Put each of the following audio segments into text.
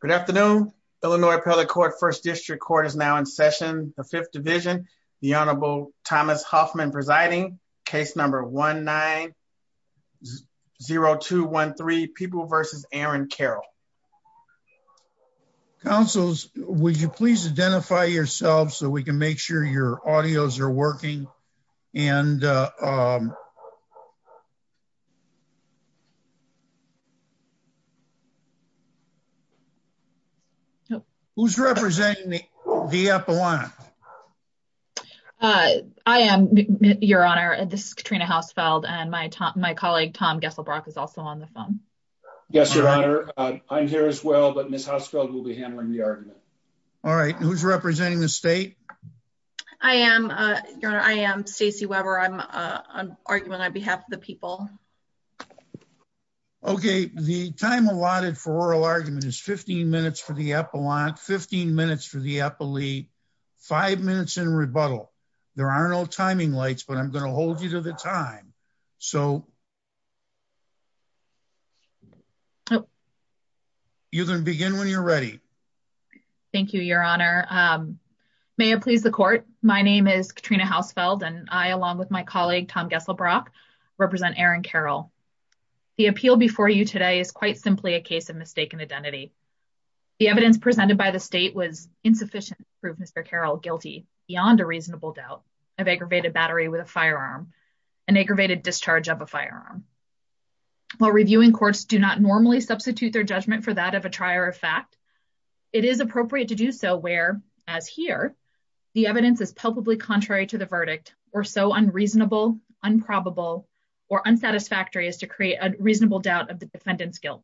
Good afternoon, Illinois Appellate Court, 1st District Court is now in session, the 5th Division, the Honorable Thomas Hoffman presiding, case number 1-9-0213, People v. Aaron Carroll. Counsels, would you please identify yourselves so we can make sure your audios are working? And who's representing the Appellant? I am, Your Honor, this is Katrina Hausfeld and my colleague Tom Gesselbrock is also on the phone. Yes, Your Honor, I'm here as well, but Ms. Hausfeld will be handling the argument. All right, who's representing the state? I am, Your Honor, I am Stacey Weber, I'm on argument on behalf of the people. Okay, the time allotted for oral argument is 15 minutes for the Appellant, 15 minutes for the Appellee, five minutes in rebuttal. There are no timing lights, but I'm going to hold you to the time. So, you can begin when you're ready. Thank you, Your Honor. May it please the Court, my name is Katrina Hausfeld and I, along with my colleague Tom Gesselbrock, represent Aaron Carroll. The appeal before you today is quite simply a case of mistaken identity. The evidence presented by the state was insufficient to prove Mr. Carroll guilty, beyond a reasonable doubt, of aggravated battery with a firearm, and aggravated discharge of a firearm. While reviewing courts do not normally substitute their judgment for that of a trier of fact, it is appropriate to do so where, as here, the evidence is palpably contrary to the verdict, or so unreasonable, improbable, or unsatisfactory as to create a reasonable doubt of the defendant's guilt.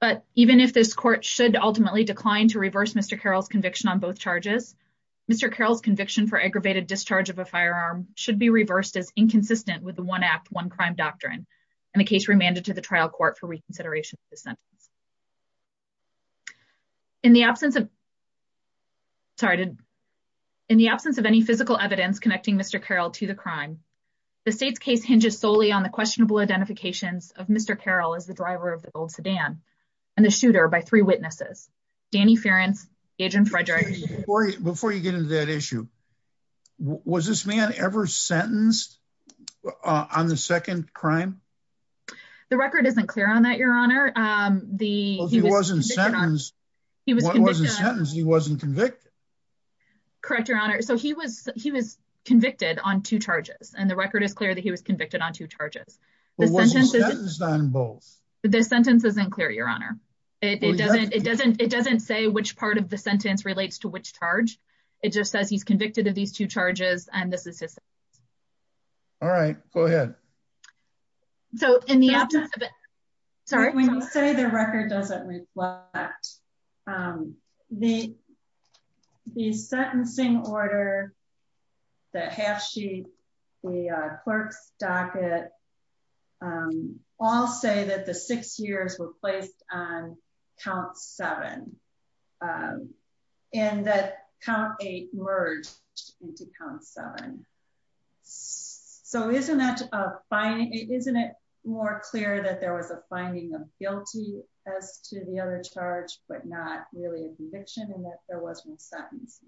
But even if this Court should ultimately decline to reverse Mr. Carroll's conviction on both inconsistent with the one-act, one-crime doctrine, and the case remanded to the trial court for reconsideration of his sentence. In the absence of any physical evidence connecting Mr. Carroll to the crime, the state's case hinges solely on the questionable identifications of Mr. Carroll as the driver of the gold sedan and the shooter by three witnesses, Danny Ferencz, and Agent Frederick. Before you get into that issue, was this man ever sentenced on the second crime? The record isn't clear on that, Your Honor. Well, if he wasn't sentenced, he wasn't convicted. Correct, Your Honor. So he was convicted on two charges, and the record is clear that he was convicted on two charges. But wasn't he sentenced on both? The sentence isn't clear, Your Honor. It doesn't say which part of the sentence relates to which charge. It just says he's convicted of these two charges, and this is his sentence. All right, go ahead. So in the absence of... Sorry? When you say the record doesn't reflect, the sentencing order, the half-sheet, the clerk's count, he was convicted on count seven, and that count eight merged into count seven. So isn't it more clear that there was a finding of guilty as to the other charge, but not really a conviction, and that there was no sentence?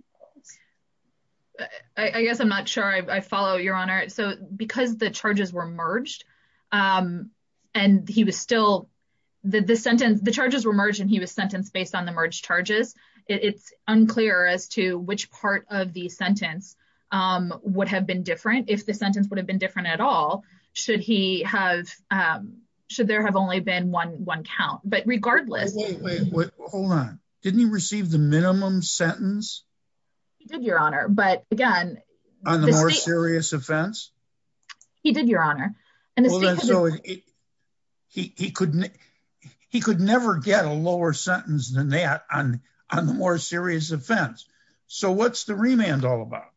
I guess I'm not sure I follow, Your Honor. So because the charges were merged, and he was still... The charges were merged, and he was sentenced based on the merged charges. It's unclear as to which part of the sentence would have been different. If the sentence would have been different at all, should there have only been one count. But regardless... Hold on. Didn't he receive the minimum sentence? He did, Your Honor. But again... On the more serious offense? He did, Your Honor. And so he could never get a lower sentence than that on the more serious offense. So what's the remand all about?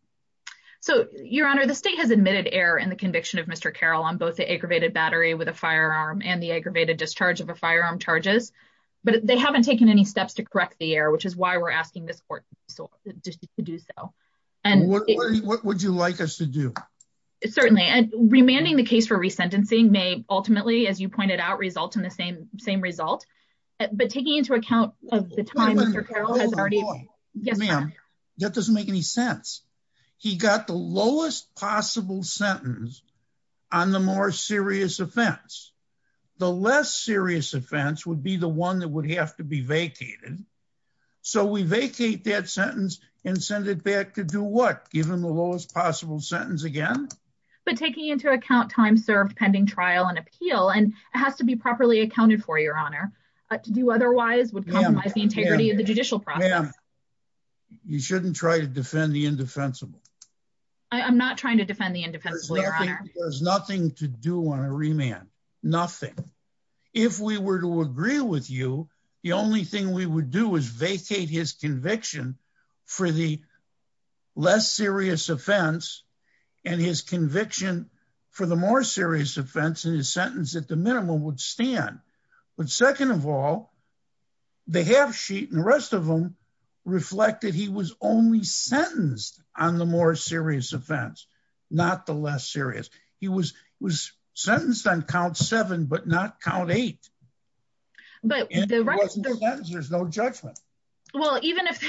So, Your Honor, the state has admitted error in the conviction of Mr. Carroll on both the aggravated battery with a firearm and the aggravated discharge of a firearm charges, but they haven't taken any steps to correct the error, which is why we're asking this court to do so. What would you like us to do? Certainly. And remanding the case for resentencing may ultimately, as you pointed out, result in the same result. But taking into account the time Mr. Carroll has already... Yes, ma'am. That doesn't make any sense. He got the lowest possible sentence on the more serious offense. The less serious offense would be the one that would have to be vacated. So we vacate that sentence and send it back to do what? Give him the lowest possible sentence again? But taking into account time served pending trial and appeal, and it has to be properly accounted for, Your Honor. To do otherwise would compromise the integrity of the judicial process. Ma'am, you shouldn't try to defend the indefensible. I'm not trying to defend the indefensible, Your Honor. It has nothing to do on a remand. Nothing. If we were to agree with you, the only thing we would do is vacate his conviction for the less serious offense and his conviction for the more serious offense in his sentence at the minimum would stand. But second of all, the half sheet and the rest of them reflected he was only sentenced on the more serious offense, not the less serious. He was sentenced on count seven, but not count eight. But... There's no judgment. Well, even if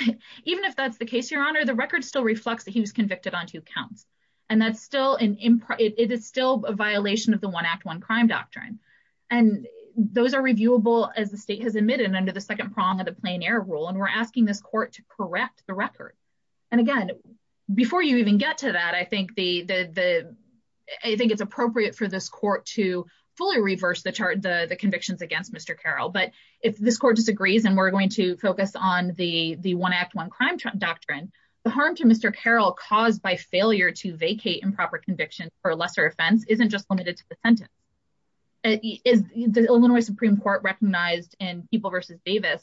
even if that's the case, Your Honor, the record still reflects that he was convicted on two counts, and that's still an it is still a violation of the one act one crime doctrine. And those are reviewable as the state has admitted under the second prong of the plein air rule. And we're asking this court to correct the record. And again, before you even get to that, I think the I think it's appropriate for this court to fully reverse the chart, the convictions against Mr. Carroll. But if this court disagrees and we're going to focus on the one act one crime doctrine, the harm to Mr. Carroll caused by failure to vacate improper convictions for a lesser offense isn't just limited to the sentence. Is the Illinois Supreme Court recognized in people versus Davis?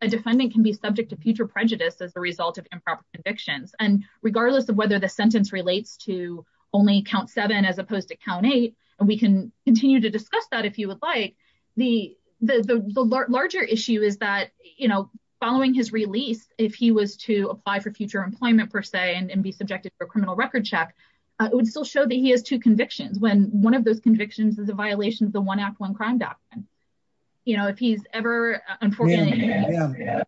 A defendant can be subject to future prejudice as a result of improper convictions. And regardless of whether the sentence relates to only count seven as opposed to count eight, and we can continue to discuss that if you would like the the larger issue is that, you know, following his release, if he was to apply for future employment, per se, and be subjected to a criminal record check, it would still show that he has two convictions when one of those convictions is a violation of the one act one crime doctrine. You know, if he's ever unfortunate,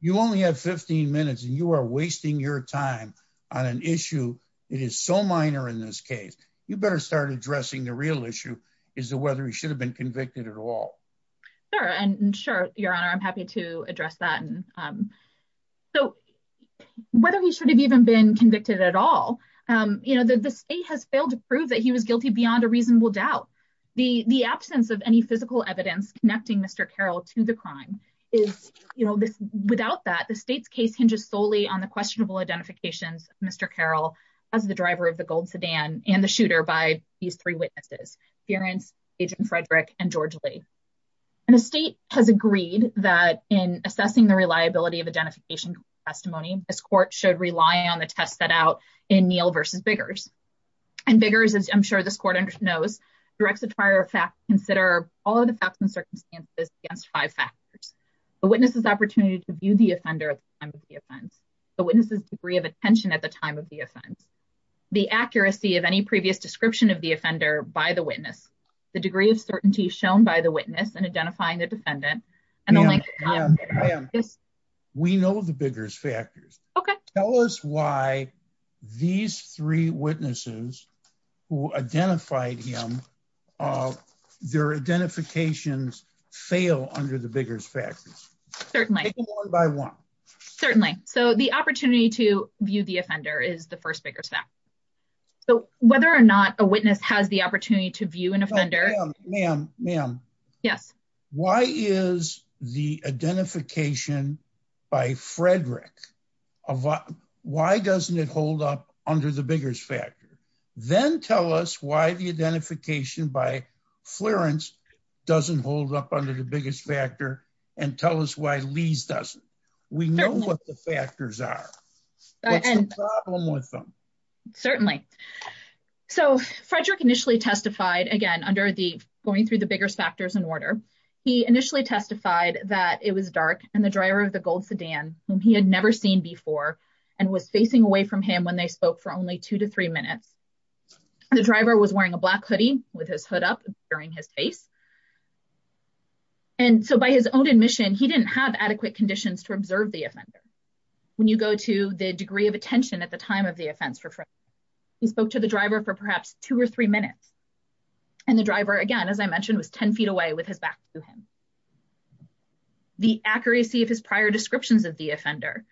you only have 15 minutes and you are wasting your time on an issue. It is so minor in this case. You better start addressing the real issue is whether he should have been convicted at all. Sure. And sure, Your Honor, I'm happy to address that. So whether he should have even been convicted at all, you know, the state has failed to prove that he was guilty beyond a reasonable doubt. The absence of any physical evidence connecting Mr. Carroll to the crime is, you know, this without that the state's case hinges solely on the questionable identifications. Mr. Carroll, as the driver of the gold sedan and the shooter by these three witnesses, parents, Agent Frederick and George Lee. And the state has agreed that in assessing the reliability of identification testimony, this court should rely on the test set out in Neal versus Biggers. And Biggers, as I'm sure this court knows, directs the prior fact consider all of the facts and circumstances against five factors. The witnesses opportunity to view the offender at the time of the offense. The witnesses degree of attention at the time of the offense. The accuracy of any previous description of the offender by the witness. The degree of certainty shown by the witness and identifying the defendant. We know the Biggers factors. Okay. Tell us why these three witnesses who identified him. Their identifications fail under the Biggers factors. Certainly by one. Certainly. So the opportunity to view the offender is the first bigger step. So whether or not a witness has the opportunity to view an offender. Ma'am. Yes. Why is the identification by Frederick? Why doesn't it hold up under the Biggers factor? Then tell us why the identification by Florence doesn't hold up under the Biggers factor and tell us why Lee's doesn't. We know what the factors are. And the problem with them. Certainly. So Frederick initially testified again under the going through the Biggers factors in order. He initially testified that it was dark and the driver of the gold sedan whom he had never seen before and was facing away from him when they spoke for only two to three minutes. The driver was wearing a black hoodie with his hood up during his face. And so by his own admission, he didn't have adequate conditions to observe the offender. When you go to the degree of attention at the time of the offense for. He spoke to the driver for perhaps two or three minutes. And the driver again, as I mentioned, was 10 feet away with his back to him. The accuracy of his prior descriptions of the offender.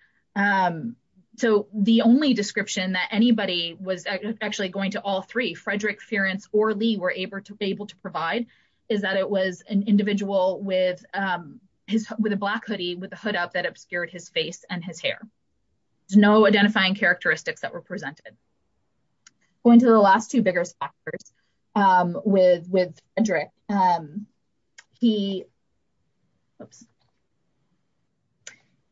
So the only description that anybody was actually going to all three Frederick, or Lee were able to be able to provide is that it was an individual with his with a black hoodie with a hood up that obscured his face and his hair. There's no identifying characteristics that were presented. Going to the last two Biggers factors with with a drink. He.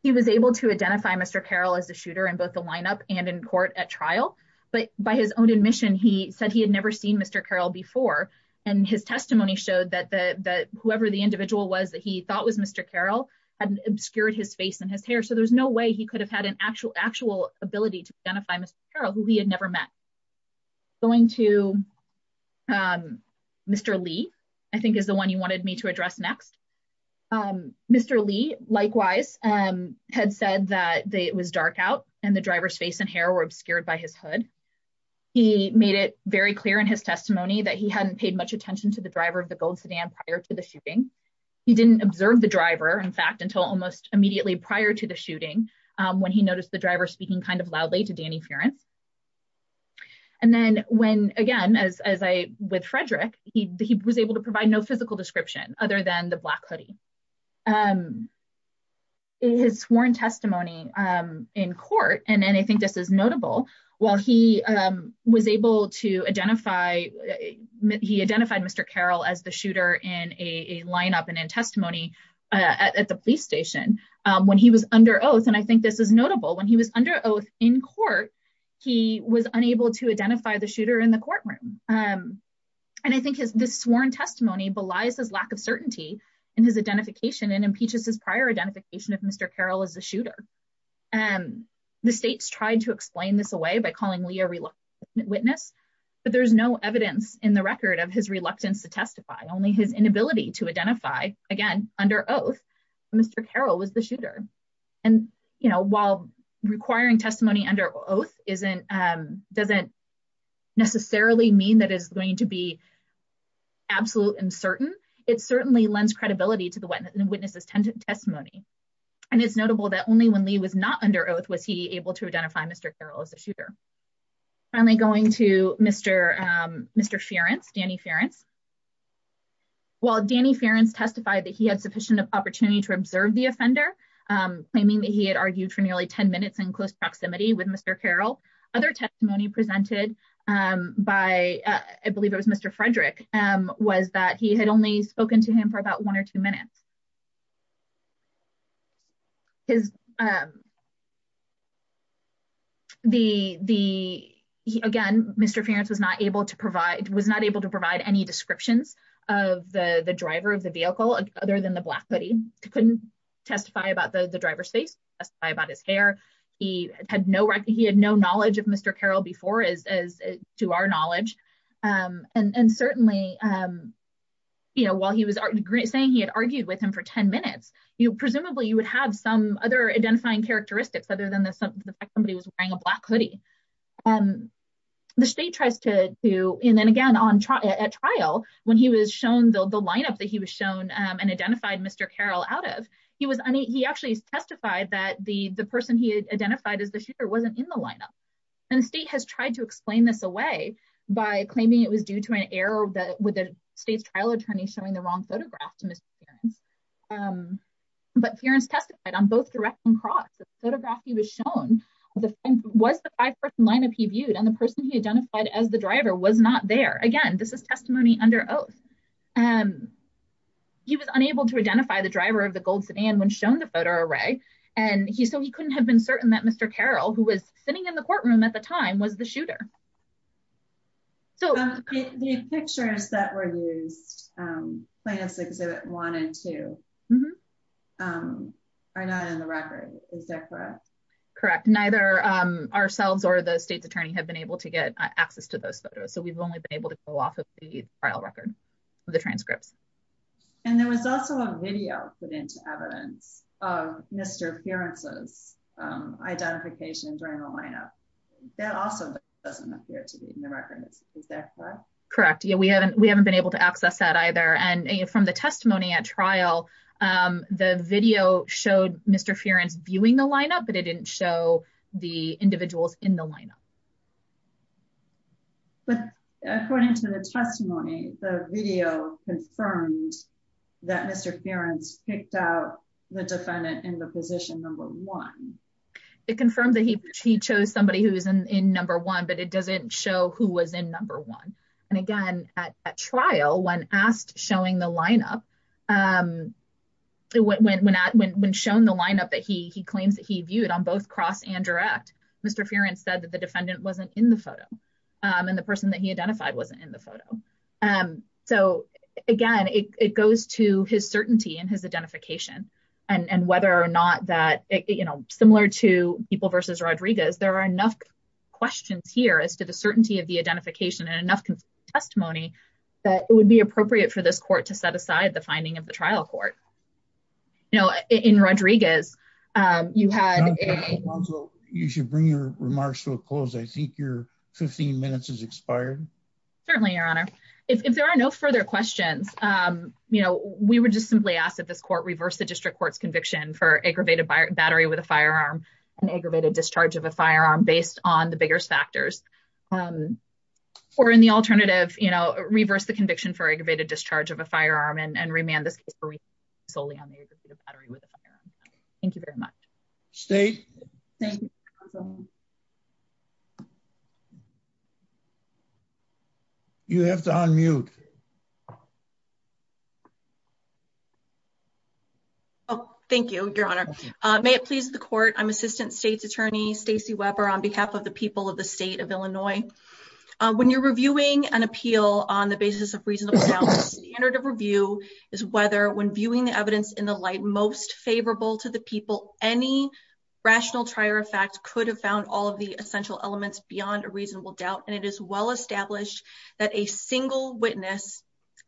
He was able to identify Mr. Carroll as a shooter in both the lineup and in court at trial. But by his own admission, he said he had never seen Mr. Carroll before. And his testimony showed that whoever the individual was that he thought was Mr. Carroll had obscured his face and his hair. So there's no way he could have had an actual actual ability to identify Mr. Carroll, who he had never met. Going to Mr. Lee, I think, is the one you wanted me to address next. Mr. Lee, likewise, had said that it was dark out. And the driver's face and hair were obscured by his hood. He made it very clear in his testimony that he hadn't paid much attention to the driver of the gold sedan prior to the shooting. He didn't observe the driver, in fact, until almost immediately prior to the shooting, when he noticed the driver speaking kind of loudly to Danny Furance. And then when again, as I with Frederick, he was able to provide no physical description other than the black hoodie. And his sworn testimony in court. And I think this is notable. While he was able to identify he identified Mr. Carroll as the shooter in a lineup and in testimony at the police station when he was under oath. And I think this is notable. When he was under oath in court, he was unable to identify the shooter in the courtroom. And I think this sworn testimony belies his lack of certainty in his identification and impeaches his prior identification of Mr. Carroll as a shooter. And the states tried to explain this away by calling Lee a reluctant witness. But there's no evidence in the record of his reluctance to testify, only his inability to identify, again, under oath, Mr. Carroll was the shooter. And while requiring testimony under oath doesn't necessarily mean that is going to be absolute and certain, it certainly lends credibility to the witness's testimony. And it's notable that only when Lee was not under oath was he able to identify Mr. Carroll as a shooter. Finally, going to Mr. Furance, Danny Furance. While Danny Furance testified that he had sufficient opportunity to observe the offender, claiming that he had argued for nearly 10 minutes in close proximity with Mr. Carroll, other testimony presented by, I believe it was Mr. Frederick, was that he had only spoken to him for about one or two minutes. Again, Mr. Furance was not able to provide any descriptions of the driver of the vehicle, other than the black hoodie. He couldn't testify about the driver's face, testify about his hair. He had no knowledge of Mr. Carroll before, as to our knowledge. And certainly, while he was saying he had argued with him for 10 minutes, presumably, you would have some other identifying characteristics other than the fact somebody was wearing a black hoodie. The state tries to, and then again, at trial, when he was shown the lineup that he was shown and identified Mr. Carroll out of, he actually testified that the person he had identified as the shooter wasn't in the lineup. And the state has tried to explain this away by claiming it was due to an error with the state's trial attorney showing the wrong photograph to Mr. Furance. But Furance testified on both direct and cross. The photograph he was shown was the five-person lineup he viewed, and the person he identified as the driver was not there. Again, this is testimony under oath. And he was unable to identify the driver of the gold sedan when shown the photo array, and so he couldn't have been certain that Mr. Carroll, who was sitting in the courtroom at the time, was the shooter. So the pictures that were used, Plaintiff's Exhibit 1 and 2, are not in the record, is that correct? Correct. Neither ourselves or the state's attorney have been able to get access to those photos, so we've only been able to pull off of the trial record. The transcripts. And there was also a video put into evidence of Mr. Furance's identification during the lineup. That also doesn't appear to be in the record, is that correct? Correct. Yeah, we haven't been able to access that either. And from the testimony at trial, the video showed Mr. Furance viewing the lineup, but it didn't show the individuals in the lineup. But according to the testimony, the video confirmed that Mr. Furance picked out the defendant in the position number one. It confirmed that he chose somebody who was in number one, but it doesn't show who was in number one. And again, at trial, when asked showing the lineup, when shown the lineup that he claims he viewed on both cross and direct, Mr. Furance said that the defendant wasn't in the photo and the person that he identified wasn't in the photo. So again, it goes to his certainty and his identification and whether or not that similar to people versus Rodriguez, there are enough questions here as to the certainty of the identification and enough testimony that it would be appropriate for this court to set aside the finding of the trial court. You know, in Rodriguez, you had a- Counsel, you should bring your remarks to a close. I think your 15 minutes has expired. Certainly, Your Honor. If there are no further questions, you know, we would just simply ask that this court reverse the district court's conviction for aggravated battery with a firearm and aggravated discharge of a firearm based on the bigger factors. Or in the alternative, you know, reverse the conviction for aggravated discharge of a firearm and remand this case solely on the aggravated battery with a firearm. Thank you very much. State. You have to unmute. Oh, thank you, Your Honor. May it please the court. I'm Assistant State's Attorney Stacey Weber on behalf of the people of the state of Illinois. When you're reviewing an appeal on the basis of reasonable doubt, the standard of review is whether when viewing the evidence in the light most favorable to the people, any rational trier of facts could have found all of the essential elements beyond a reasonable doubt. And it is well established that a single witness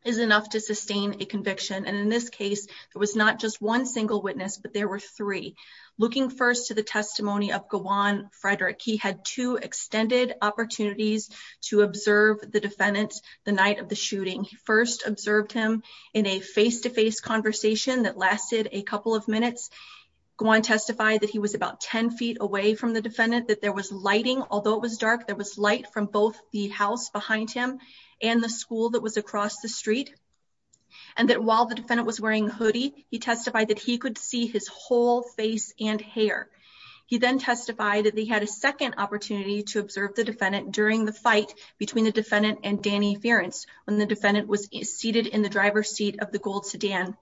is enough to sustain a conviction. And in this case, there was not just one single witness, but there were three. Looking first to the testimony of Gawan Frederick, he had two extended opportunities to observe the defendant the night of the shooting. He first observed him in a face-to-face conversation that lasted a couple of minutes. Gawan testified that he was about 10 feet away from the defendant, that there was lighting, although it was dark, there was light from both the house behind him and the school that was across the street. And that while the defendant was wearing a hoodie, he testified that he could see his whole face and hair. He then testified that he had a second opportunity to observe the defendant during the fight between the defendant and Danny Ferencz, when the defendant was seated in the driver's seat of the gold sedan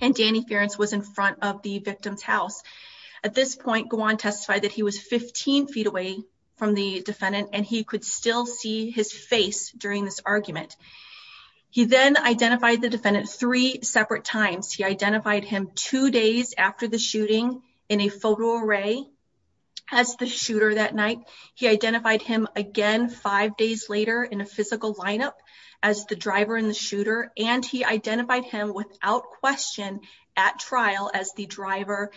and Danny Ferencz was in front of the victim's house. At this point, Gawan testified that he was 15 feet away from the defendant and he could still see his face during this argument. He then identified the defendant three separate times. He identified him two days after the shooting in a photo array as the shooter that night. He identified him again five days later in a physical lineup as the driver and the shooter. And he identified him without question at trial as the driver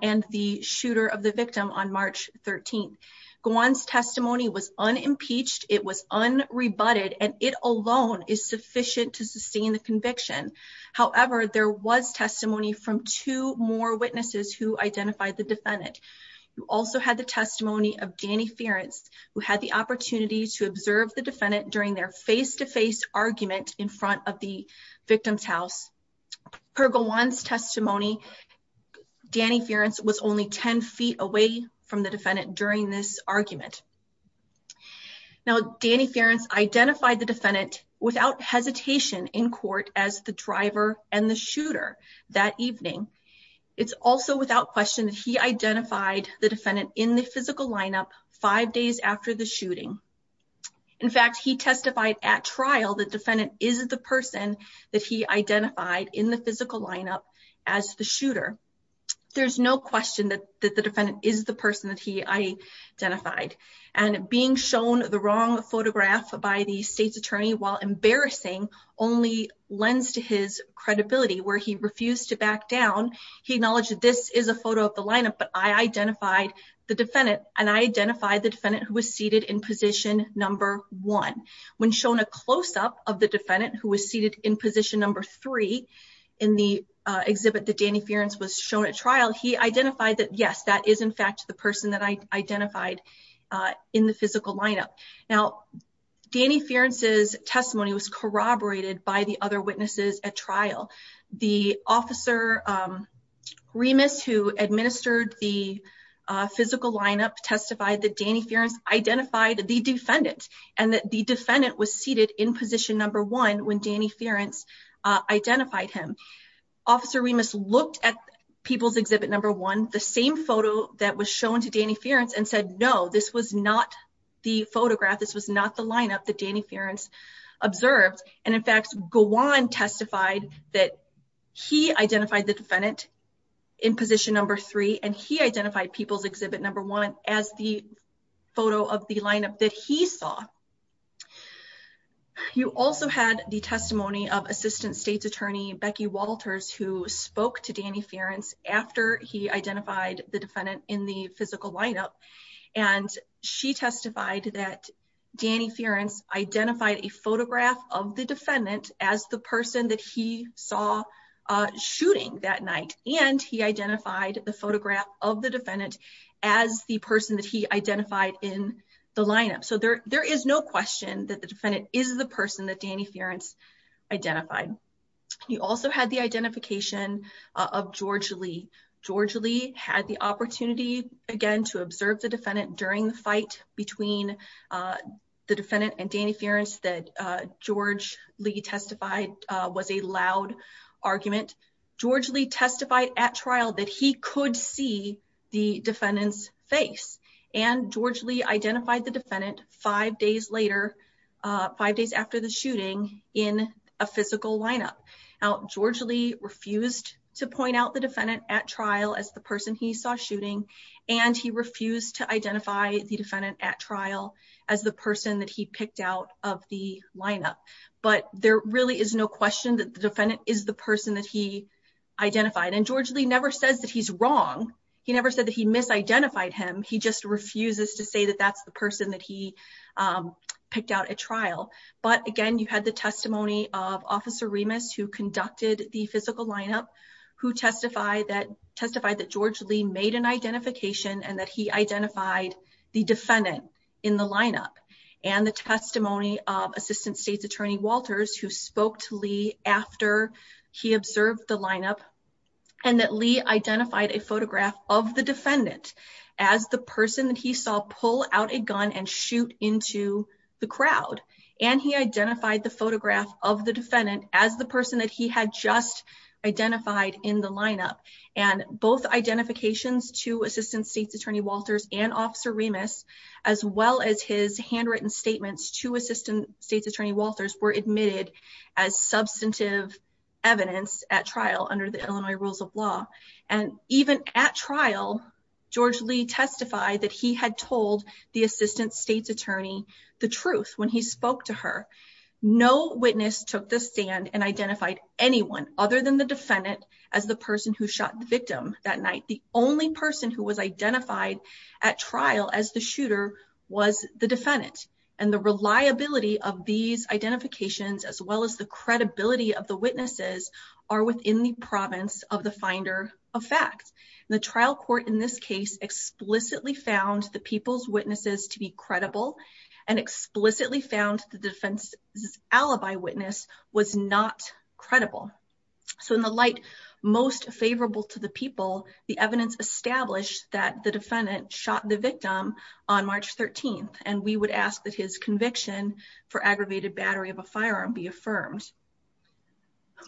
and the shooter of the victim on March 13th. Gawan's testimony was unimpeached, it was unrebutted, and it alone is sufficient to sustain the conviction. However, there was testimony from two more witnesses who identified the defendant. You also had the testimony of Danny Ferencz, who had the opportunity to observe the defendant during their face-to-face argument in front of the victim's house. Per Gawan's testimony, Danny Ferencz was only 10 feet away from the defendant during this argument. Now, Danny Ferencz identified the defendant without hesitation in court as the driver and the shooter that evening. It's also without question that he identified the defendant in the physical lineup five days after the shooting. In fact, he testified at trial that the defendant is the person that he identified in the physical lineup as the shooter. There's no question that the defendant is the person that he identified. And being shown the wrong photograph by the state's attorney while embarrassing only lends to his credibility where he refused to back down. He acknowledged that this is a photo of the lineup, but I identified the defendant, and I identified the defendant who was seated in position number one. When shown a close-up of the defendant who was seated in position number three in the exhibit that Danny Ferencz was shown at trial, he identified that, yes, that is in fact the person that I identified in the physical lineup. Now, Danny Ferencz's testimony was corroborated by the other witnesses at trial. The officer Remus, who administered the physical lineup, testified that Danny Ferencz identified the defendant and that the defendant was seated in position number one when Danny Ferencz identified him. Officer Remus looked at people's exhibit number one, the same photo that was shown to Danny Ferencz, and said, no, this was not the photograph. This was not the lineup that Danny Ferencz observed. And in fact, Gowan testified that he identified the defendant in position number three, and he identified people's exhibit number one as the photo of the lineup that he saw. You also had the testimony of Assistant State's Attorney Becky Walters, who spoke to Danny Ferencz after he identified the defendant in the physical lineup. And she testified that Danny Ferencz identified a photograph of the defendant as the person that he saw shooting that night. And he identified the photograph of the defendant as the person that he identified in the lineup. So there is no question that the defendant is the person that Danny Ferencz identified. You also had the identification of George Lee. George Lee had the opportunity, again, to observe the defendant during the fight between the defendant and Danny Ferencz that George Lee testified was a loud argument. George Lee testified at trial that he could see the defendant's face. And George Lee identified the defendant five days later, five days after the shooting in a physical lineup. Now, George Lee refused to point out the defendant at trial as the person he saw shooting, and he refused to identify the defendant at trial as the person that he picked out of the lineup. But there really is no question that the defendant is the person that he identified. And George Lee never says that he's wrong. He never said that he misidentified him. He just refuses to say that that's the person that he picked out at trial. But again, you had the testimony of Officer Remus, who conducted the physical lineup, who testified that George Lee made an identification and that he identified the defendant in the lineup. And the testimony of Assistant State's Attorney Walters, who spoke to Lee after he observed the lineup and that Lee identified a photograph of the defendant as the person that he saw pull out a gun and shoot into the crowd. And he identified the photograph of the defendant as the person that he had just identified in the lineup. And both identifications to Assistant State's Attorney Walters and Officer Remus, as well as his handwritten statements to Assistant State's Attorney Walters, were admitted as substantive evidence at trial under the Illinois rules of law. And even at trial, George Lee testified that he had told the Assistant State's Attorney the truth when he spoke to her. No witness took the stand and identified anyone other than the defendant as the person who shot the victim that night. The only person who was identified at trial as the shooter was the defendant. And the reliability of these identifications, as well as the credibility of the witnesses, are within the province of the finder of fact. The trial court in this case explicitly found the people's witnesses to be credible and explicitly found the defense's alibi witness was not credible. So in the light most favorable to the people, the evidence established that the defendant shot the victim on March 13th. And we would ask that his conviction for aggravated battery of a firearm be affirmed.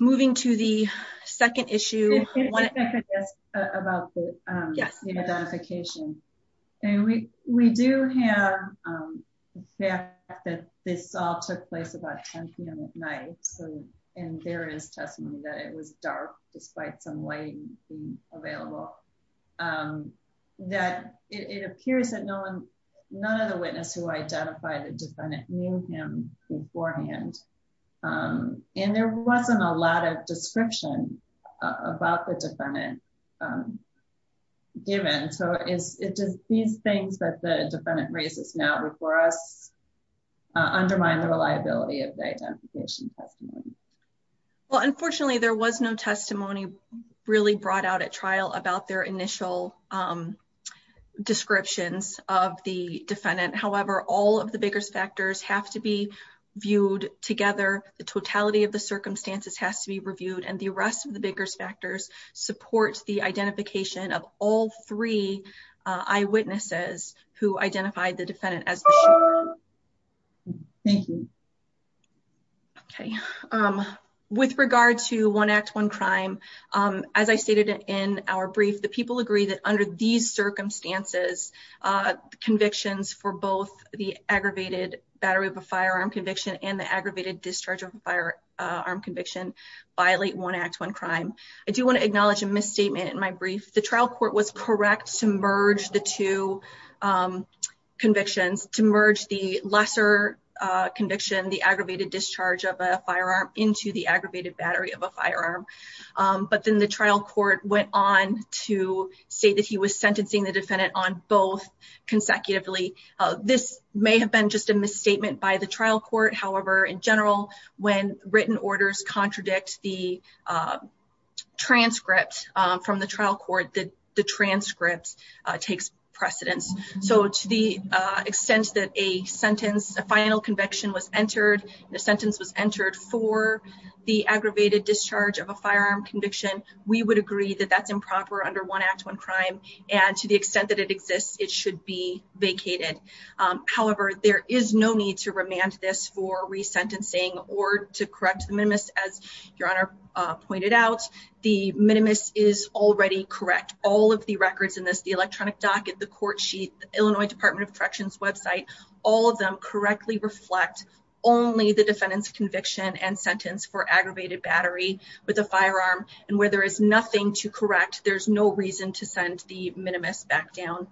Moving to the second issue. I could ask about the identification. And we do have the fact that this all took place about 10 p.m. at night. And there is testimony that it was dark despite some light being available. That it appears that none of the witnesses who identified the defendant knew him beforehand. And there wasn't a lot of description about the defendant given. So is it just these things that the defendant raises now before us undermine the reliability of the identification testimony? Well, unfortunately, there was no testimony really brought out at trial about their initial descriptions of the defendant. However, all of the bigger factors have to be viewed together. The totality of the circumstances has to be reviewed and the rest of the bigger factors support the identification of all three eyewitnesses who identified the defendant as. Thank you. Okay, with regard to one act, one crime, as I stated in our brief, the people agree that under these circumstances convictions for both the aggravated battery of a firearm conviction and the aggravated discharge of a firearm conviction violate one act, one crime. I do want to acknowledge a misstatement in my brief. The trial court was correct to merge the two convictions to merge the lesser conviction, the aggravated discharge of a firearm into the aggravated battery of a firearm. But then the trial court went on to say that he was sentencing the defendant on both consecutively. This may have been just a misstatement by the trial court. However, in general, when written orders contradict the transcript from the trial court, the transcript takes precedence. So to the extent that a sentence, a final conviction was entered, the sentence was entered for the aggravated discharge of a firearm conviction, we would agree that that's improper under one act, one crime. And to the extent that it exists, it should be vacated. However, there is no need to remand this for resentencing or to correct the minimus. As your honor pointed out, the minimus is already correct. All of the records in this, the electronic docket, the court sheet, Illinois Department of Corrections website, all of them correctly reflect only the defendant's conviction and sentence for aggravated battery with a firearm. And where there is nothing to correct, there's no reason to send the minimus back down.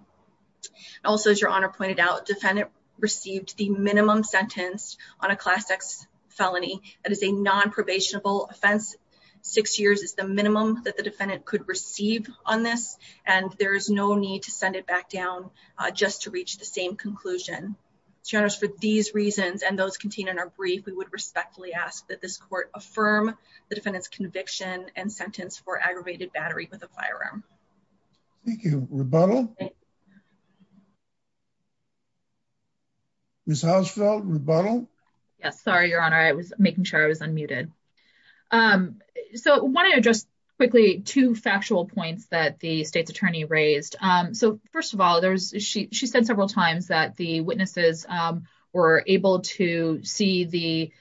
Also, as your honor pointed out, defendant received the minimum sentence on a Class X felony. That is a non-probationable offense. Six years is the minimum that the defendant could receive on this. And there is no need to send it back down just to reach the same conclusion. Your honors, for these reasons, and those contained in our brief, we would respectfully ask that this court affirm the defendant's conviction and sentence for aggravated battery with a firearm. Thank you. Rebuttal. Ms. Hausfeld, rebuttal. Yes. Sorry, your honor. I was making sure I was unmuted. I want to address quickly two factual points that the state's attorney raised. First of all, she said several times that the witnesses were able to see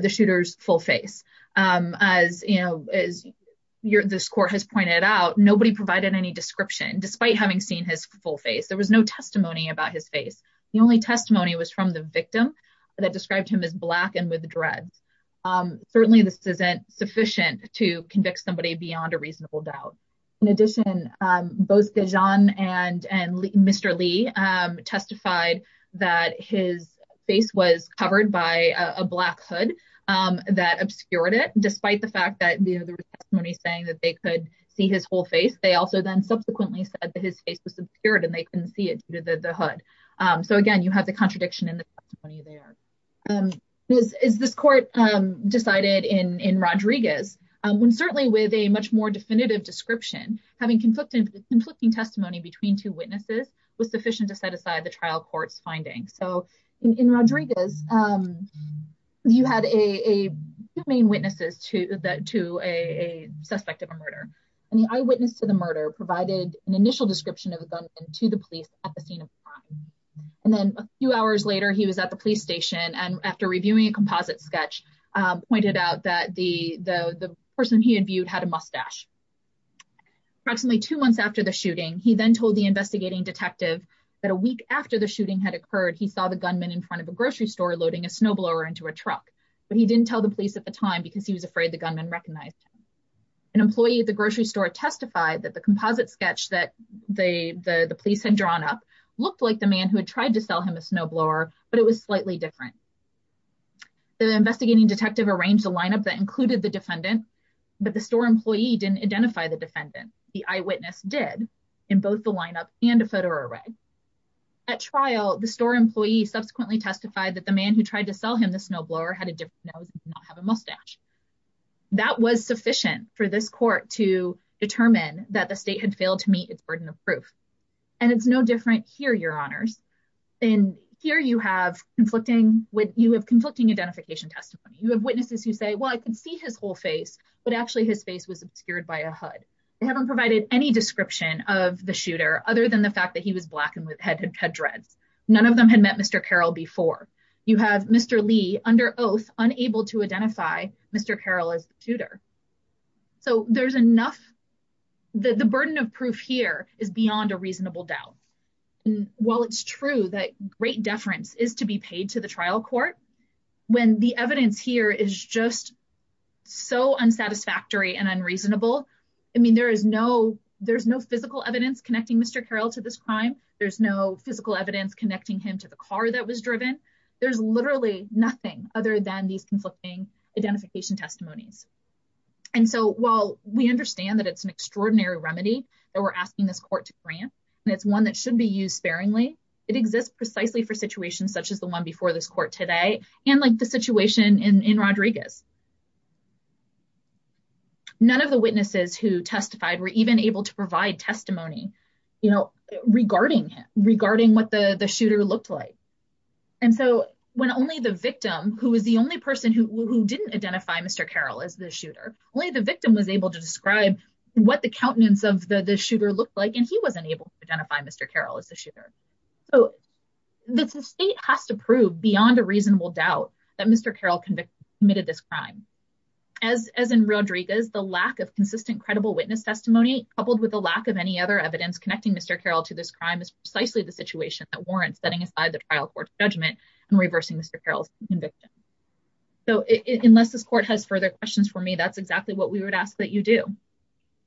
the shooter's full face. As this court has pointed out, nobody provided any description despite having seen his full face. There was no testimony about his face. The only testimony was from the victim that described him as black and with dreads. Certainly, this isn't sufficient to convict somebody beyond a reasonable doubt. In addition, both Dajan and Mr. Lee testified that his face was covered by a black hood that obscured it, despite the fact that there was testimony saying that they could see his whole face. They also then subsequently said that his face was obscured and they couldn't see it due to the hood. So again, you have the contradiction in the testimony there. As this court decided in Rodriguez, when certainly with a much more definitive description, having conflicting testimony between two witnesses was sufficient to set aside the trial court's finding. So in Rodriguez, you had two main witnesses to a suspect of a murder. And the eyewitness to the murder provided an initial description of a gunman to the police at the scene of the crime. And then a few hours later, he was at the police station. And after reviewing a composite sketch, he pointed out that the person he had viewed had a mustache. Approximately two months after the shooting, he then told the investigating detective that a week after the shooting had occurred, he saw the gunman in front of a grocery store loading a snowblower into a truck. But he didn't tell the police at the time because he was afraid the gunman recognized him. An employee at the grocery store testified that the composite sketch that the police had drawn up looked like the man who had tried to sell him a snowblower, but it was slightly different. The investigating detective arranged a lineup that included the defendant, but the store employee didn't identify the defendant. The eyewitness did in both the lineup and a photo array. At trial, the store employee subsequently testified that the man who tried to sell him the snowblower had a different nose and did not have a mustache. That was sufficient for this court to determine that the state had failed to meet its burden of proof. And it's no different here, Your Honors. And here you have conflicting identification testimony. You have witnesses who say, well, I can see his whole face, but actually his face was obscured by a hood. They haven't provided any description of the shooter other than the fact that he was black and had dreads. None of them had met Mr. Carroll before. You have Mr. Lee under oath unable to identify Mr. Carroll as the shooter. So the burden of proof here is beyond a reasonable doubt. While it's true that great deference is to be paid to the trial court, when the evidence here is just so unsatisfactory and unreasonable, I mean, there's no physical evidence connecting Mr. Carroll to this crime. There's no physical evidence connecting him to the car that was driven. There's literally nothing other than these conflicting identification testimonies. And so while we understand that it's an extraordinary remedy that we're asking this court to grant, and it's one that should be used sparingly, it exists precisely for situations such as the one before this court today and like the situation in Rodriguez. None of the witnesses who testified were even able to provide testimony regarding what the shooter looked like. And so when only the victim, who was the only person who didn't identify Mr. Carroll as a shooter, only the victim was able to describe what the countenance of the shooter looked like, and he wasn't able to identify Mr. Carroll as the shooter. So the state has to prove beyond a reasonable doubt that Mr. Carroll committed this crime. As in Rodriguez, the lack of consistent credible witness testimony coupled with the lack of any other evidence connecting Mr. Carroll to this crime is precisely the situation that warrants setting aside the trial court's judgment and reversing Mr. Carroll's conviction. So unless this court has further questions for me, that's exactly what we would ask that you do.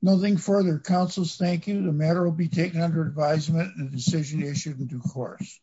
Nothing further. Counsels, thank you. The matter will be taken under advisement and the decision issued in due course.